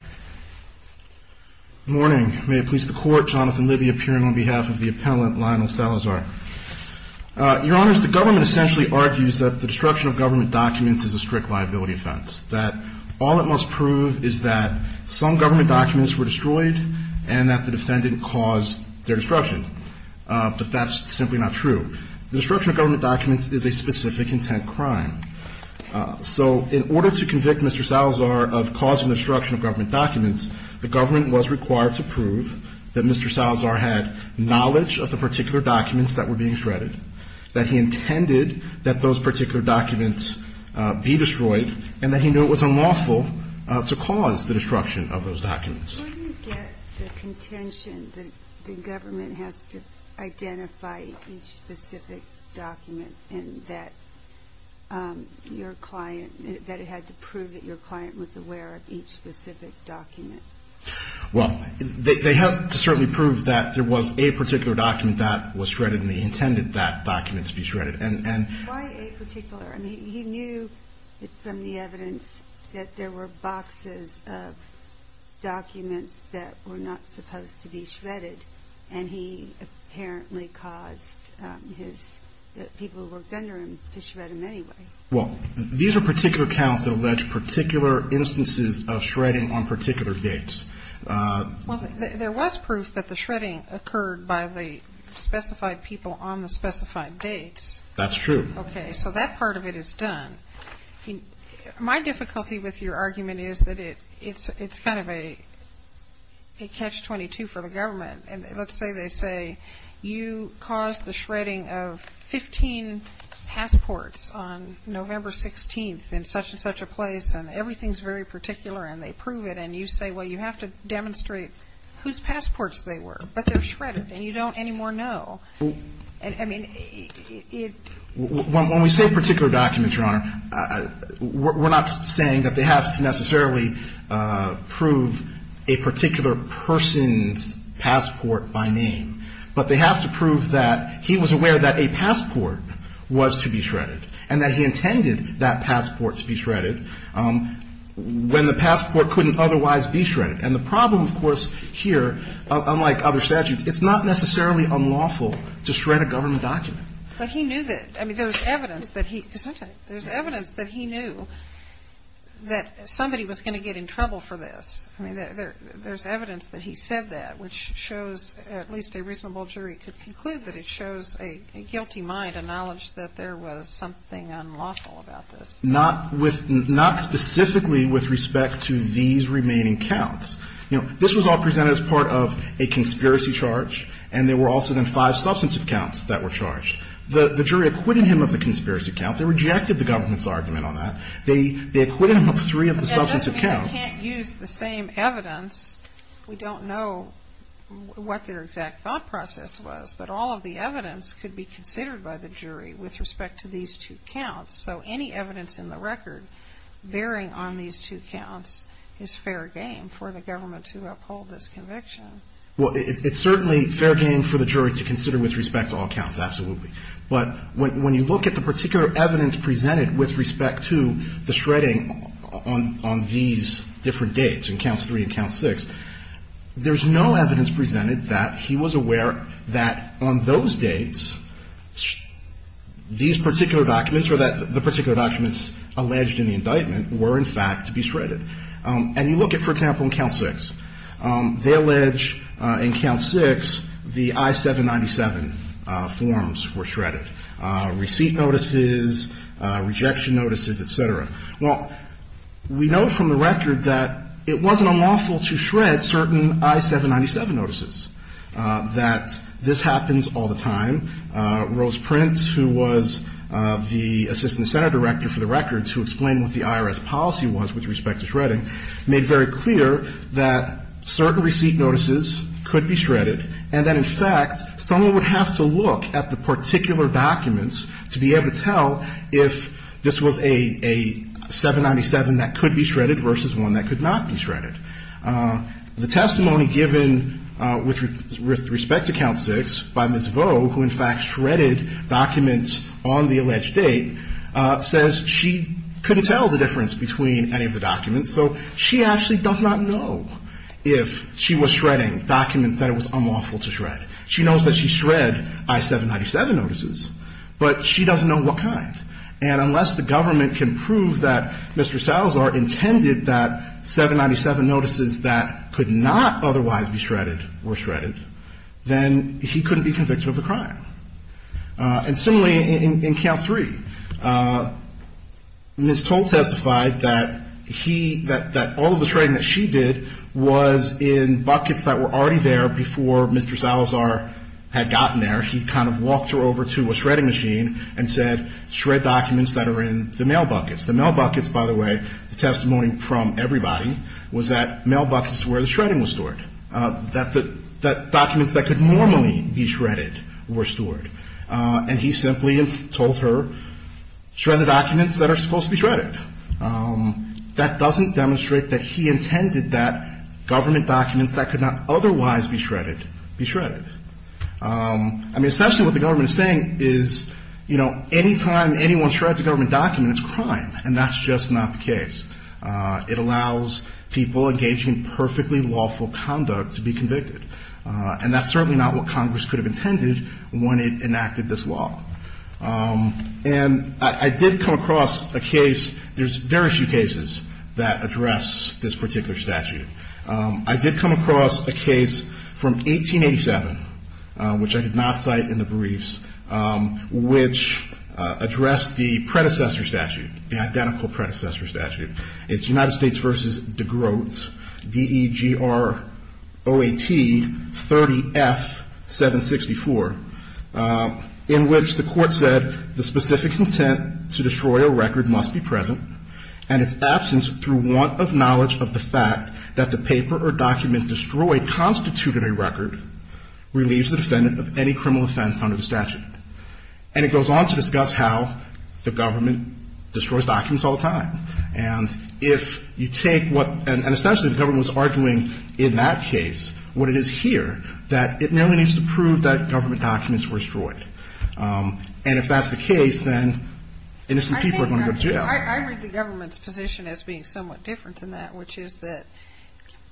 Good morning. May it please the court, Jonathan Libby appearing on behalf of the appellant, Lionel Salazar. Your honors, the government essentially argues that the destruction of government documents is a strict liability offense. That all it must prove is that some government documents were destroyed and that the defendant caused their destruction. But that's simply not true. The destruction of government documents is a specific intent crime. So in order to convict Mr. Salazar of causing the destruction of government documents, the government was required to prove that Mr. Salazar had knowledge of the particular documents that were being shredded, that he intended that those particular documents be destroyed, and that he knew it was unlawful to cause the destruction of those documents. Where do you get the contention that the government has to identify each specific document and that it had to prove that your client was aware of each specific document? Well, they have to certainly prove that there was a particular document that was shredded and he intended that document to be shredded. Why a particular? I mean, he knew from the evidence that there were boxes of documents that were not supposed to be shredded and he apparently caused his people who worked under him to shred them anyway. Well, these are particular counts that allege particular instances of shredding on particular dates. Well, there was proof that the shredding occurred by the specified people on the specified dates. That's true. Okay. So that part of it is done. My difficulty with your argument is that it's kind of a catch-22 for the government. And let's say they say, you caused the shredding of 15 passports on November 16th in such and such a place, and everything's very particular and they prove it. And you say, well, you have to demonstrate whose passports they were. But they're shredded and you don't anymore know. I mean, it — When we say particular documents, Your Honor, we're not saying that they have to necessarily prove a particular person's passport by name. But they have to prove that he was aware that a passport was to be shredded and that he intended that passport to be shredded when the passport couldn't otherwise be shredded. And the problem, of course, here, unlike other statutes, it's not necessarily unlawful to shred a government document. But he knew that — I mean, there's evidence that he — there's evidence that he knew that somebody was going to get in trouble for this. I mean, there's evidence that he said that, which shows at least a reasonable jury could conclude that it shows a guilty mind, a knowledge that there was something unlawful about this. Not with — not specifically with respect to these remaining counts. You know, this was all presented as part of a conspiracy charge, and there were also then five substantive counts that were charged. The jury acquitted him of the conspiracy count. They rejected the government's argument on that. They acquitted him of three of the substantive counts. But that doesn't mean we can't use the same evidence. We don't know what their exact thought process was. But all of the evidence could be considered by the jury with respect to these two counts. So any evidence in the record bearing on these two counts is fair game for the government to uphold this conviction. Well, it's certainly fair game for the jury to consider with respect to all counts, absolutely. But when you look at the particular evidence presented with respect to the shredding on these different dates, in Counts 3 and Count 6, there's no evidence presented that he was aware that on those dates, these particular documents or that the particular documents alleged in the indictment were, in fact, to be shredded. And you look at, for example, in Count 6. They allege in Count 6 the I-797 forms were shredded, receipt notices, rejection notices, et cetera. Well, we know from the record that it wasn't unlawful to shred certain I-797 notices, that this happens all the time. Rose Prince, who was the assistant senate director for the records, who explained what the IRS policy was with respect to shredding, made very clear that certain receipt notices could be shredded and that, in fact, someone would have to look at the particular documents to be able to tell if this was a 797 that could be shredded versus one that could not be shredded. The testimony given with respect to Count 6 by Ms. Vo, who, in fact, shredded documents on the alleged date, says she couldn't tell the difference between any of the documents. So she actually does not know if she was shredding documents that it was unlawful to shred. She knows that she shred I-797 notices, but she doesn't know what kind. And unless the government can prove that Mr. Salazar intended that 797 notices that could not otherwise be shredded were shredded, then he couldn't be convicted of the crime. And similarly, in Count 3, Ms. Toll testified that he – that all of the shredding that she did was in buckets that were already there before Mr. Salazar had gotten there. He kind of walked her over to a shredding machine and said, shred documents that are in the mail buckets. The mail buckets, by the way, the testimony from everybody, was that mail buckets were where the shredding was stored, that documents that could normally be shredded were stored. And he simply told her, shred the documents that are supposed to be shredded. That doesn't demonstrate that he intended that government documents that could not otherwise be shredded be shredded. I mean, essentially what the government is saying is, you know, anytime anyone shreds a government document, it's crime. And that's just not the case. It allows people engaging in perfectly lawful conduct to be convicted. And that's certainly not what Congress could have intended when it enacted this law. And I did come across a case – there's very few cases that address this particular statute. I did come across a case from 1887, which I did not cite in the briefs, which addressed the predecessor statute, the identical predecessor statute. It's United States v. DeGroote, D-E-G-R-O-A-T 30F-764, in which the court said the specific intent to destroy a record must be present, and its absence through want of knowledge of the fact that the paper or document destroyed constituted a record, relieves the defendant of any criminal offense under the statute. And it goes on to discuss how the government destroys documents all the time. And if you take what – and essentially the government was arguing in that case what it is here, that it merely needs to prove that government documents were destroyed. And if that's the case, then innocent people are going to go to jail. I read the government's position as being somewhat different than that, which is that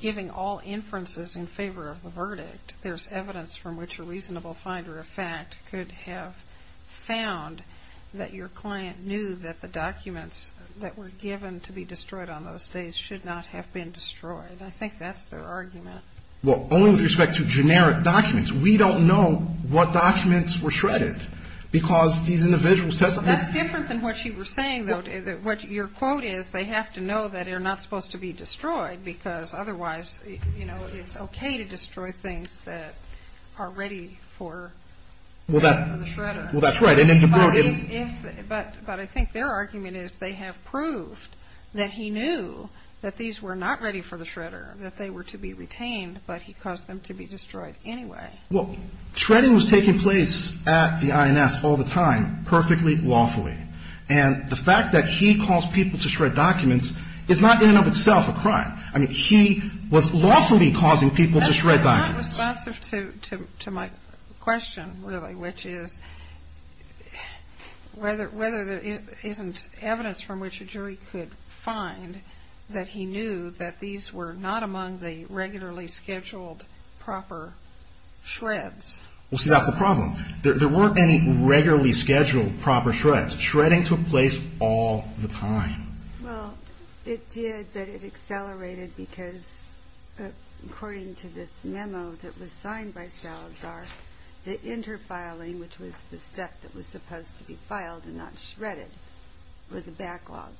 giving all inferences in favor of the verdict, there's evidence from which a reasonable finder of fact could have found that your client knew that the documents that were given to be destroyed on those days should not have been destroyed. I think that's their argument. Well, only with respect to generic documents. We don't know what documents were shredded, because these individuals testified. That's different than what you were saying, though. What your quote is, they have to know that they're not supposed to be destroyed, because otherwise, you know, it's okay to destroy things that are ready for the shredder. Well, that's right. But I think their argument is they have proved that he knew that these were not ready for the shredder, that they were to be retained, but he caused them to be destroyed anyway. Well, shredding was taking place at the INS all the time, perfectly lawfully. And the fact that he caused people to shred documents is not in and of itself a crime. I mean, he was lawfully causing people to shred documents. It's responsive to my question, really, which is whether there isn't evidence from which a jury could find that he knew that these were not among the regularly scheduled proper shreds. Well, see, that's the problem. There weren't any regularly scheduled proper shreds. Shredding took place all the time. Well, it did, but it accelerated because, according to this memo that was signed by Salazar, the inter-filing, which was the stuff that was supposed to be filed and not shredded, was a backlog.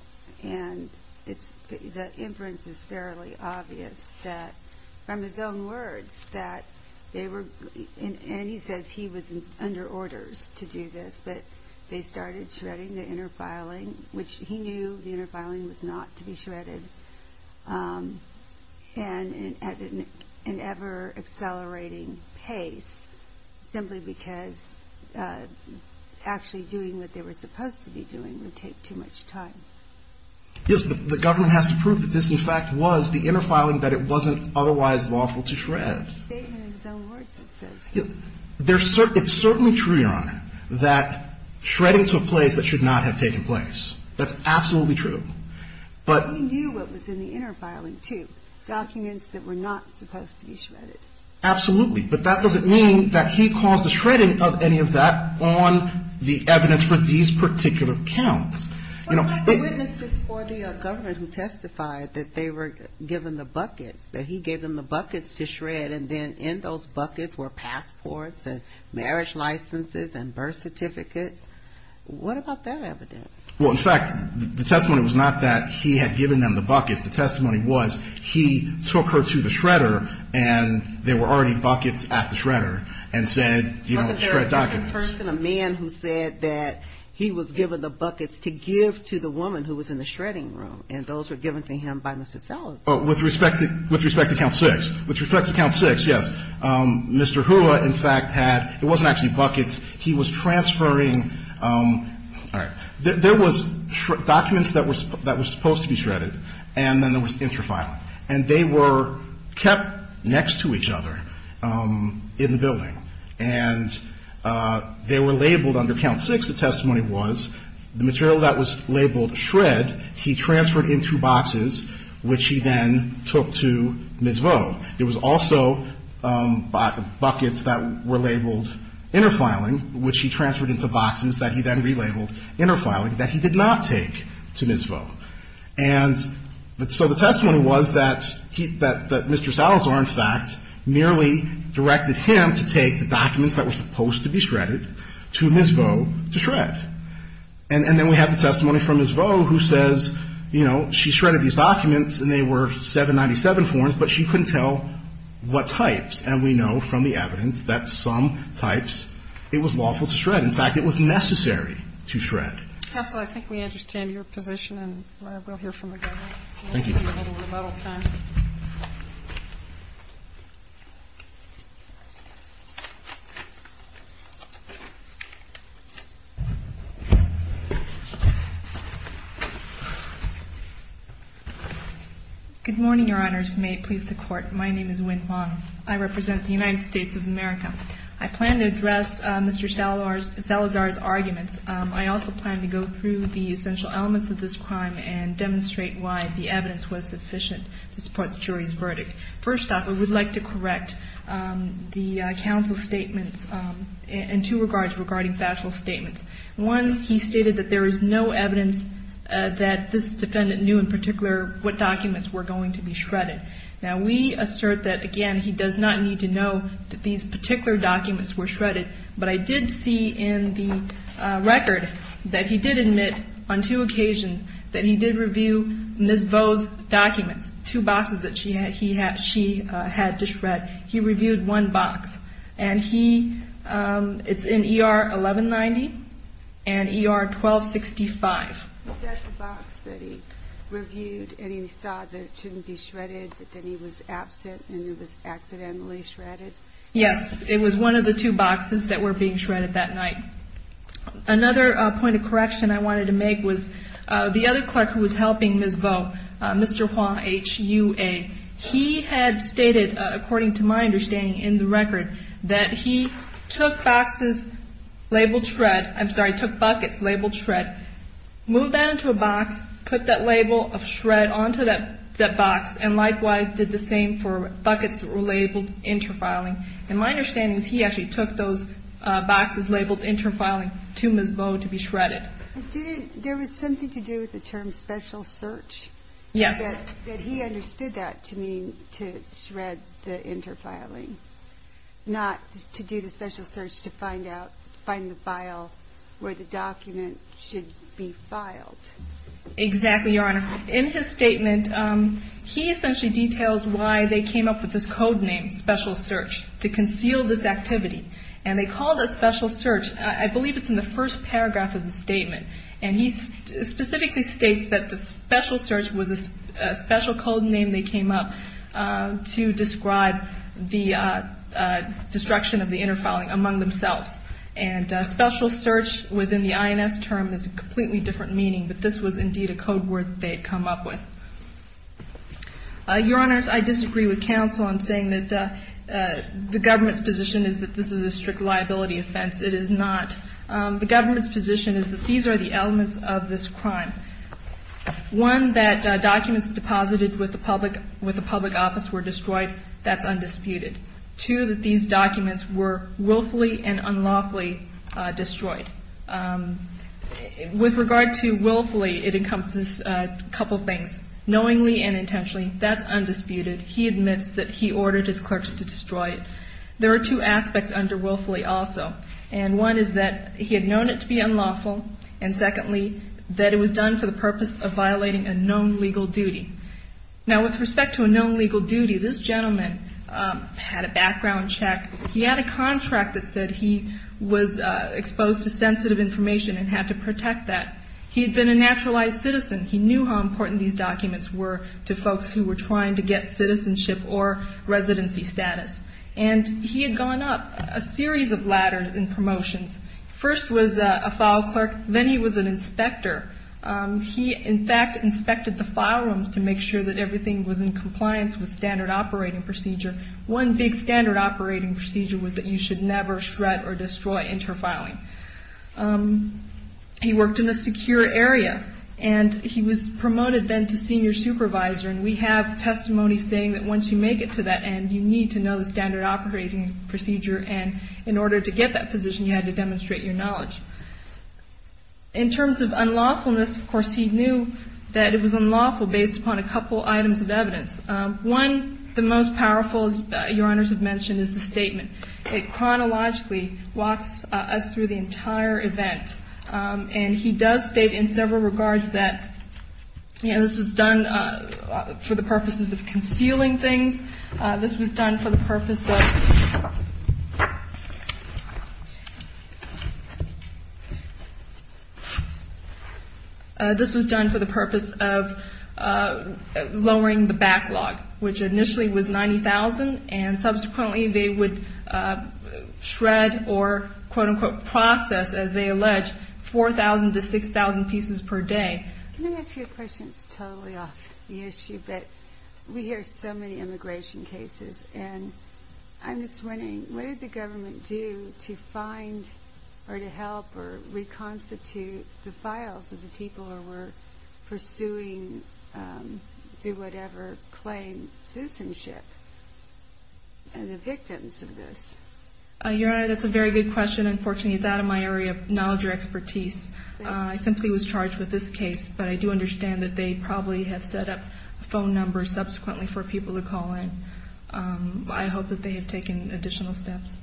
And the inference is fairly obvious that, from his own words, that they were – and he says he was under orders to do this, but they started shredding the inter-filing, which he knew the inter-filing was not to be shredded, and at an ever-accelerating pace simply because actually doing what they were supposed to be doing would take too much time. Yes, but the government has to prove that this, in fact, was the inter-filing, that it wasn't otherwise lawful to shred. It's a statement in his own words, it says. It's certainly true, Your Honor, that shredding took place that should not have taken place. That's absolutely true. But he knew what was in the inter-filing, too, documents that were not supposed to be shredded. Absolutely, but that doesn't mean that he caused the shredding of any of that on the evidence for these particular counts. Well, but the witnesses for the governor who testified that they were given the buckets, that he gave them the buckets to shred, and then in those buckets were passports and marriage licenses and birth certificates. What about that evidence? Well, in fact, the testimony was not that he had given them the buckets. The testimony was he took her to the shredder, and there were already buckets at the shredder, and said, you know, shred documents. Wasn't there a person, a man, who said that he was given the buckets to give to the woman who was in the shredding room, and those were given to him by Mr. Sellers? With respect to Count 6. With respect to Count 6, yes. Mr. Hula, in fact, had – it wasn't actually buckets. He was transferring – all right. There was documents that were supposed to be shredded, and then there was inter-filing. And they were kept next to each other in the building, and they were labeled under Count 6, the testimony was. The material that was labeled shred, he transferred into boxes, which he then took to Ms. Vo. There was also buckets that were labeled inter-filing, which he transferred into boxes that he then relabeled inter-filing, that he did not take to Ms. Vo. And so the testimony was that he – that Mr. Salazar, in fact, merely directed him to take the documents that were supposed to be And then we have the testimony from Ms. Vo who says, you know, she shredded these documents, and they were 797 forms, but she couldn't tell what types. And we know from the evidence that some types it was lawful to shred. In fact, it was necessary to shred. Counsel, I think we understand your position, and we'll hear from the government. Thank you. We have a little rebuttal time. Good morning, Your Honors. May it please the Court. My name is Wynne Wong. I represent the United States of America. I plan to address Mr. Salazar's arguments. I also plan to go through the essential elements of this crime and demonstrate why the evidence was sufficient to support the jury's verdict. First off, I would like to correct the counsel's statements in two regards regarding factual statements. One, he stated that there is no evidence that this defendant knew in particular what documents were going to be shredded. Now, we assert that, again, he does not need to know that these particular documents were shredded. But I did see in the record that he did admit on two occasions that he did review Ms. Vo's documents, two boxes that she had to shred. He reviewed one box, and it's in ER 1190 and ER 1265. Is that the box that he reviewed and he saw that it shouldn't be shredded, but then he was absent and it was accidentally shredded? Yes. It was one of the two boxes that were being shredded that night. Another point of correction I wanted to make was the other clerk who was helping Ms. Vo, Mr. Hua, H-U-A. He had stated, according to my understanding in the record, that he took boxes labeled shred. I'm sorry, took buckets labeled shred, moved that into a box, put that label of shred onto that box, and likewise did the same for buckets that were labeled inter-filing. And my understanding is he actually took those boxes labeled inter-filing to Ms. Vo to be shredded. There was something to do with the term special search? Yes. That he understood that to mean to shred the inter-filing, not to do the special search to find out, find the file where the document should be filed. Exactly, Your Honor. In his statement, he essentially details why they came up with this code name, special search, to conceal this activity. And they called it special search. I believe it's in the first paragraph of the statement. And he specifically states that the special search was a special code name they came up to describe the destruction of the inter-filing among themselves. And special search within the INS term is a completely different meaning, but this was indeed a code word they had come up with. Your Honor, I disagree with counsel in saying that the government's position is that this is a strict liability offense. It is not. The government's position is that these are the elements of this crime. One, that documents deposited with the public office were destroyed. That's undisputed. Two, that these documents were willfully and unlawfully destroyed. With regard to willfully, it encompasses a couple things. Knowingly and intentionally, that's undisputed. He admits that he ordered his clerks to destroy it. There are two aspects under willfully also. And one is that he had known it to be unlawful. And secondly, that it was done for the purpose of violating a known legal duty. Now, with respect to a known legal duty, this gentleman had a background check. He had a contract that said he was exposed to sensitive information and had to protect that. He had been a naturalized citizen. He knew how important these documents were to folks who were trying to get citizenship or residency status. And he had gone up a series of ladders in promotions. First was a file clerk. Then he was an inspector. He, in fact, inspected the file rooms to make sure that everything was in compliance with standard operating procedure. One big standard operating procedure was that you should never shred or destroy inter-filing. He worked in a secure area. And he was promoted then to senior supervisor. And we have testimony saying that once you make it to that end, you need to know the standard operating procedure. And in order to get that position, you had to demonstrate your knowledge. In terms of unlawfulness, of course, he knew that it was unlawful based upon a couple items of evidence. One, the most powerful, as Your Honors have mentioned, is the statement. It chronologically walks us through the entire event. And he does state in several regards that, you know, this was done for the purposes of concealing things. This was done for the purpose of lowering the backlog, which initially was 90,000. And subsequently they would shred or, quote-unquote, process, as they allege, 4,000 to 6,000 pieces per day. Can I ask you a question? It's totally off the issue, but we hear so many immigration cases. And I'm just wondering, what did the government do to find or to help or reconstitute the files of the people who were pursuing, do whatever, claim citizenship and the victims of this? Your Honor, that's a very good question. Unfortunately, it's out of my area of knowledge or expertise. I simply was charged with this case. But I do understand that they probably have set up phone numbers subsequently for people to call in. I hope that they have taken additional steps.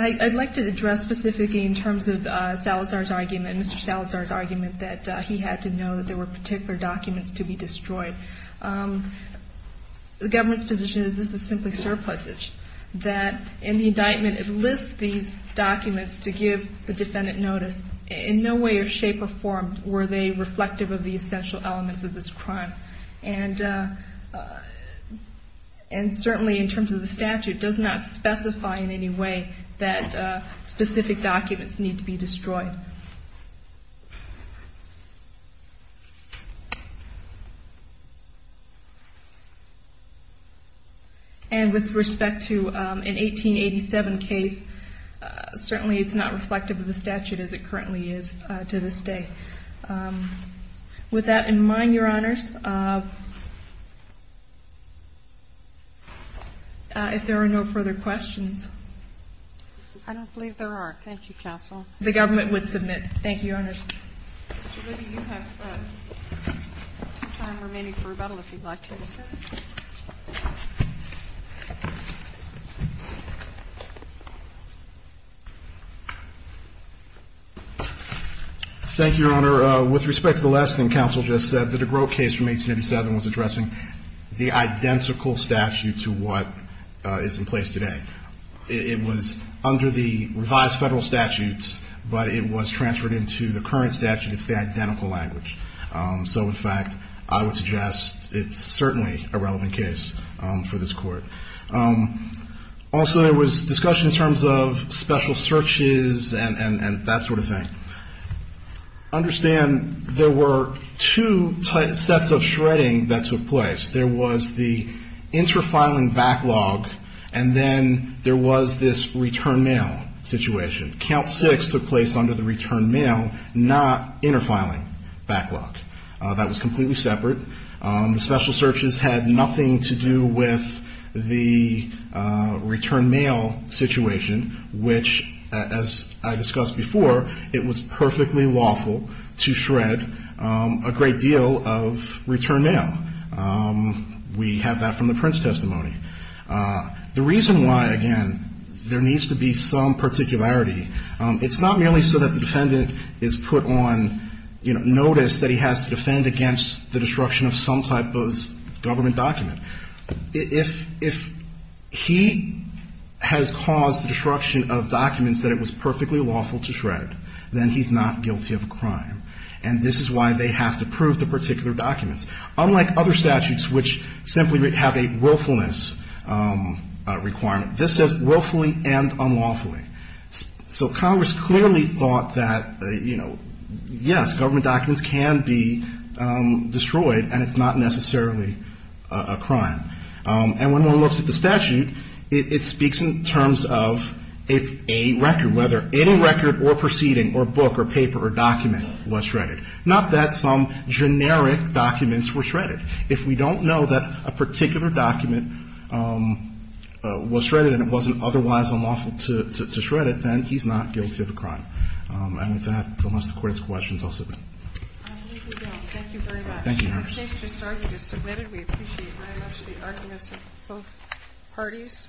I'd like to address specifically in terms of Salazar's argument, Mr. Salazar's argument, that he had to know that there were particular documents to be destroyed. The government's position is this is simply surplusage. That in the indictment, it lists these documents to give the defendant notice. In no way or shape or form were they reflective of the essential elements of this crime. And certainly in terms of the statute, it does not specify in any way that specific documents need to be destroyed. And with respect to an 1887 case, certainly it's not reflective of the statute as it currently is to this day. With that in mind, Your Honors, if there are no further questions. I don't believe there are. Thank you, Counsel. The government would submit. Thank you, Your Honors. Mr. Whitty, you have some time remaining for rebuttal if you'd like to. Thank you, Your Honor. With respect to the last thing Counsel just said, the de Groot case from 1887 was addressing the identical statute to what is in place today. It was under the revised federal statutes, but it was transferred into the current statute. It's the identical language. So, in fact, I would suggest it's certainly a relevant case for this Court. Also, there was discussion in terms of special searches and that sort of thing. Understand there were two sets of shredding that took place. There was the inter-filing backlog, and then there was this return mail situation. Count 6 took place under the return mail, not inter-filing backlog. That was completely separate. The special searches had nothing to do with the return mail situation, which, as I discussed before, it was perfectly lawful to shred a great deal of return mail. We have that from the Prince testimony. The reason why, again, there needs to be some particularity, it's not merely so that the defendant is put on notice that he has to defend against the destruction of some type of government document. If he has caused the destruction of documents that it was perfectly lawful to shred, then he's not guilty of a crime. And this is why they have to prove the particular documents. Unlike other statutes, which simply have a willfulness requirement, this says willfully and unlawfully. So Congress clearly thought that, you know, yes, government documents can be destroyed, and it's not necessarily a crime. And when one looks at the statute, it speaks in terms of a record, whether any record or proceeding or book or paper or document was shredded. Not that some generic documents were shredded. If we don't know that a particular document was shredded and it wasn't otherwise unlawful to shred it, then he's not guilty of a crime. And with that, unless the Court has questions, I'll submit. Thank you very much. Thank you, Your Honor. Your case just started. You just submitted. We appreciate very much the arguments of both parties.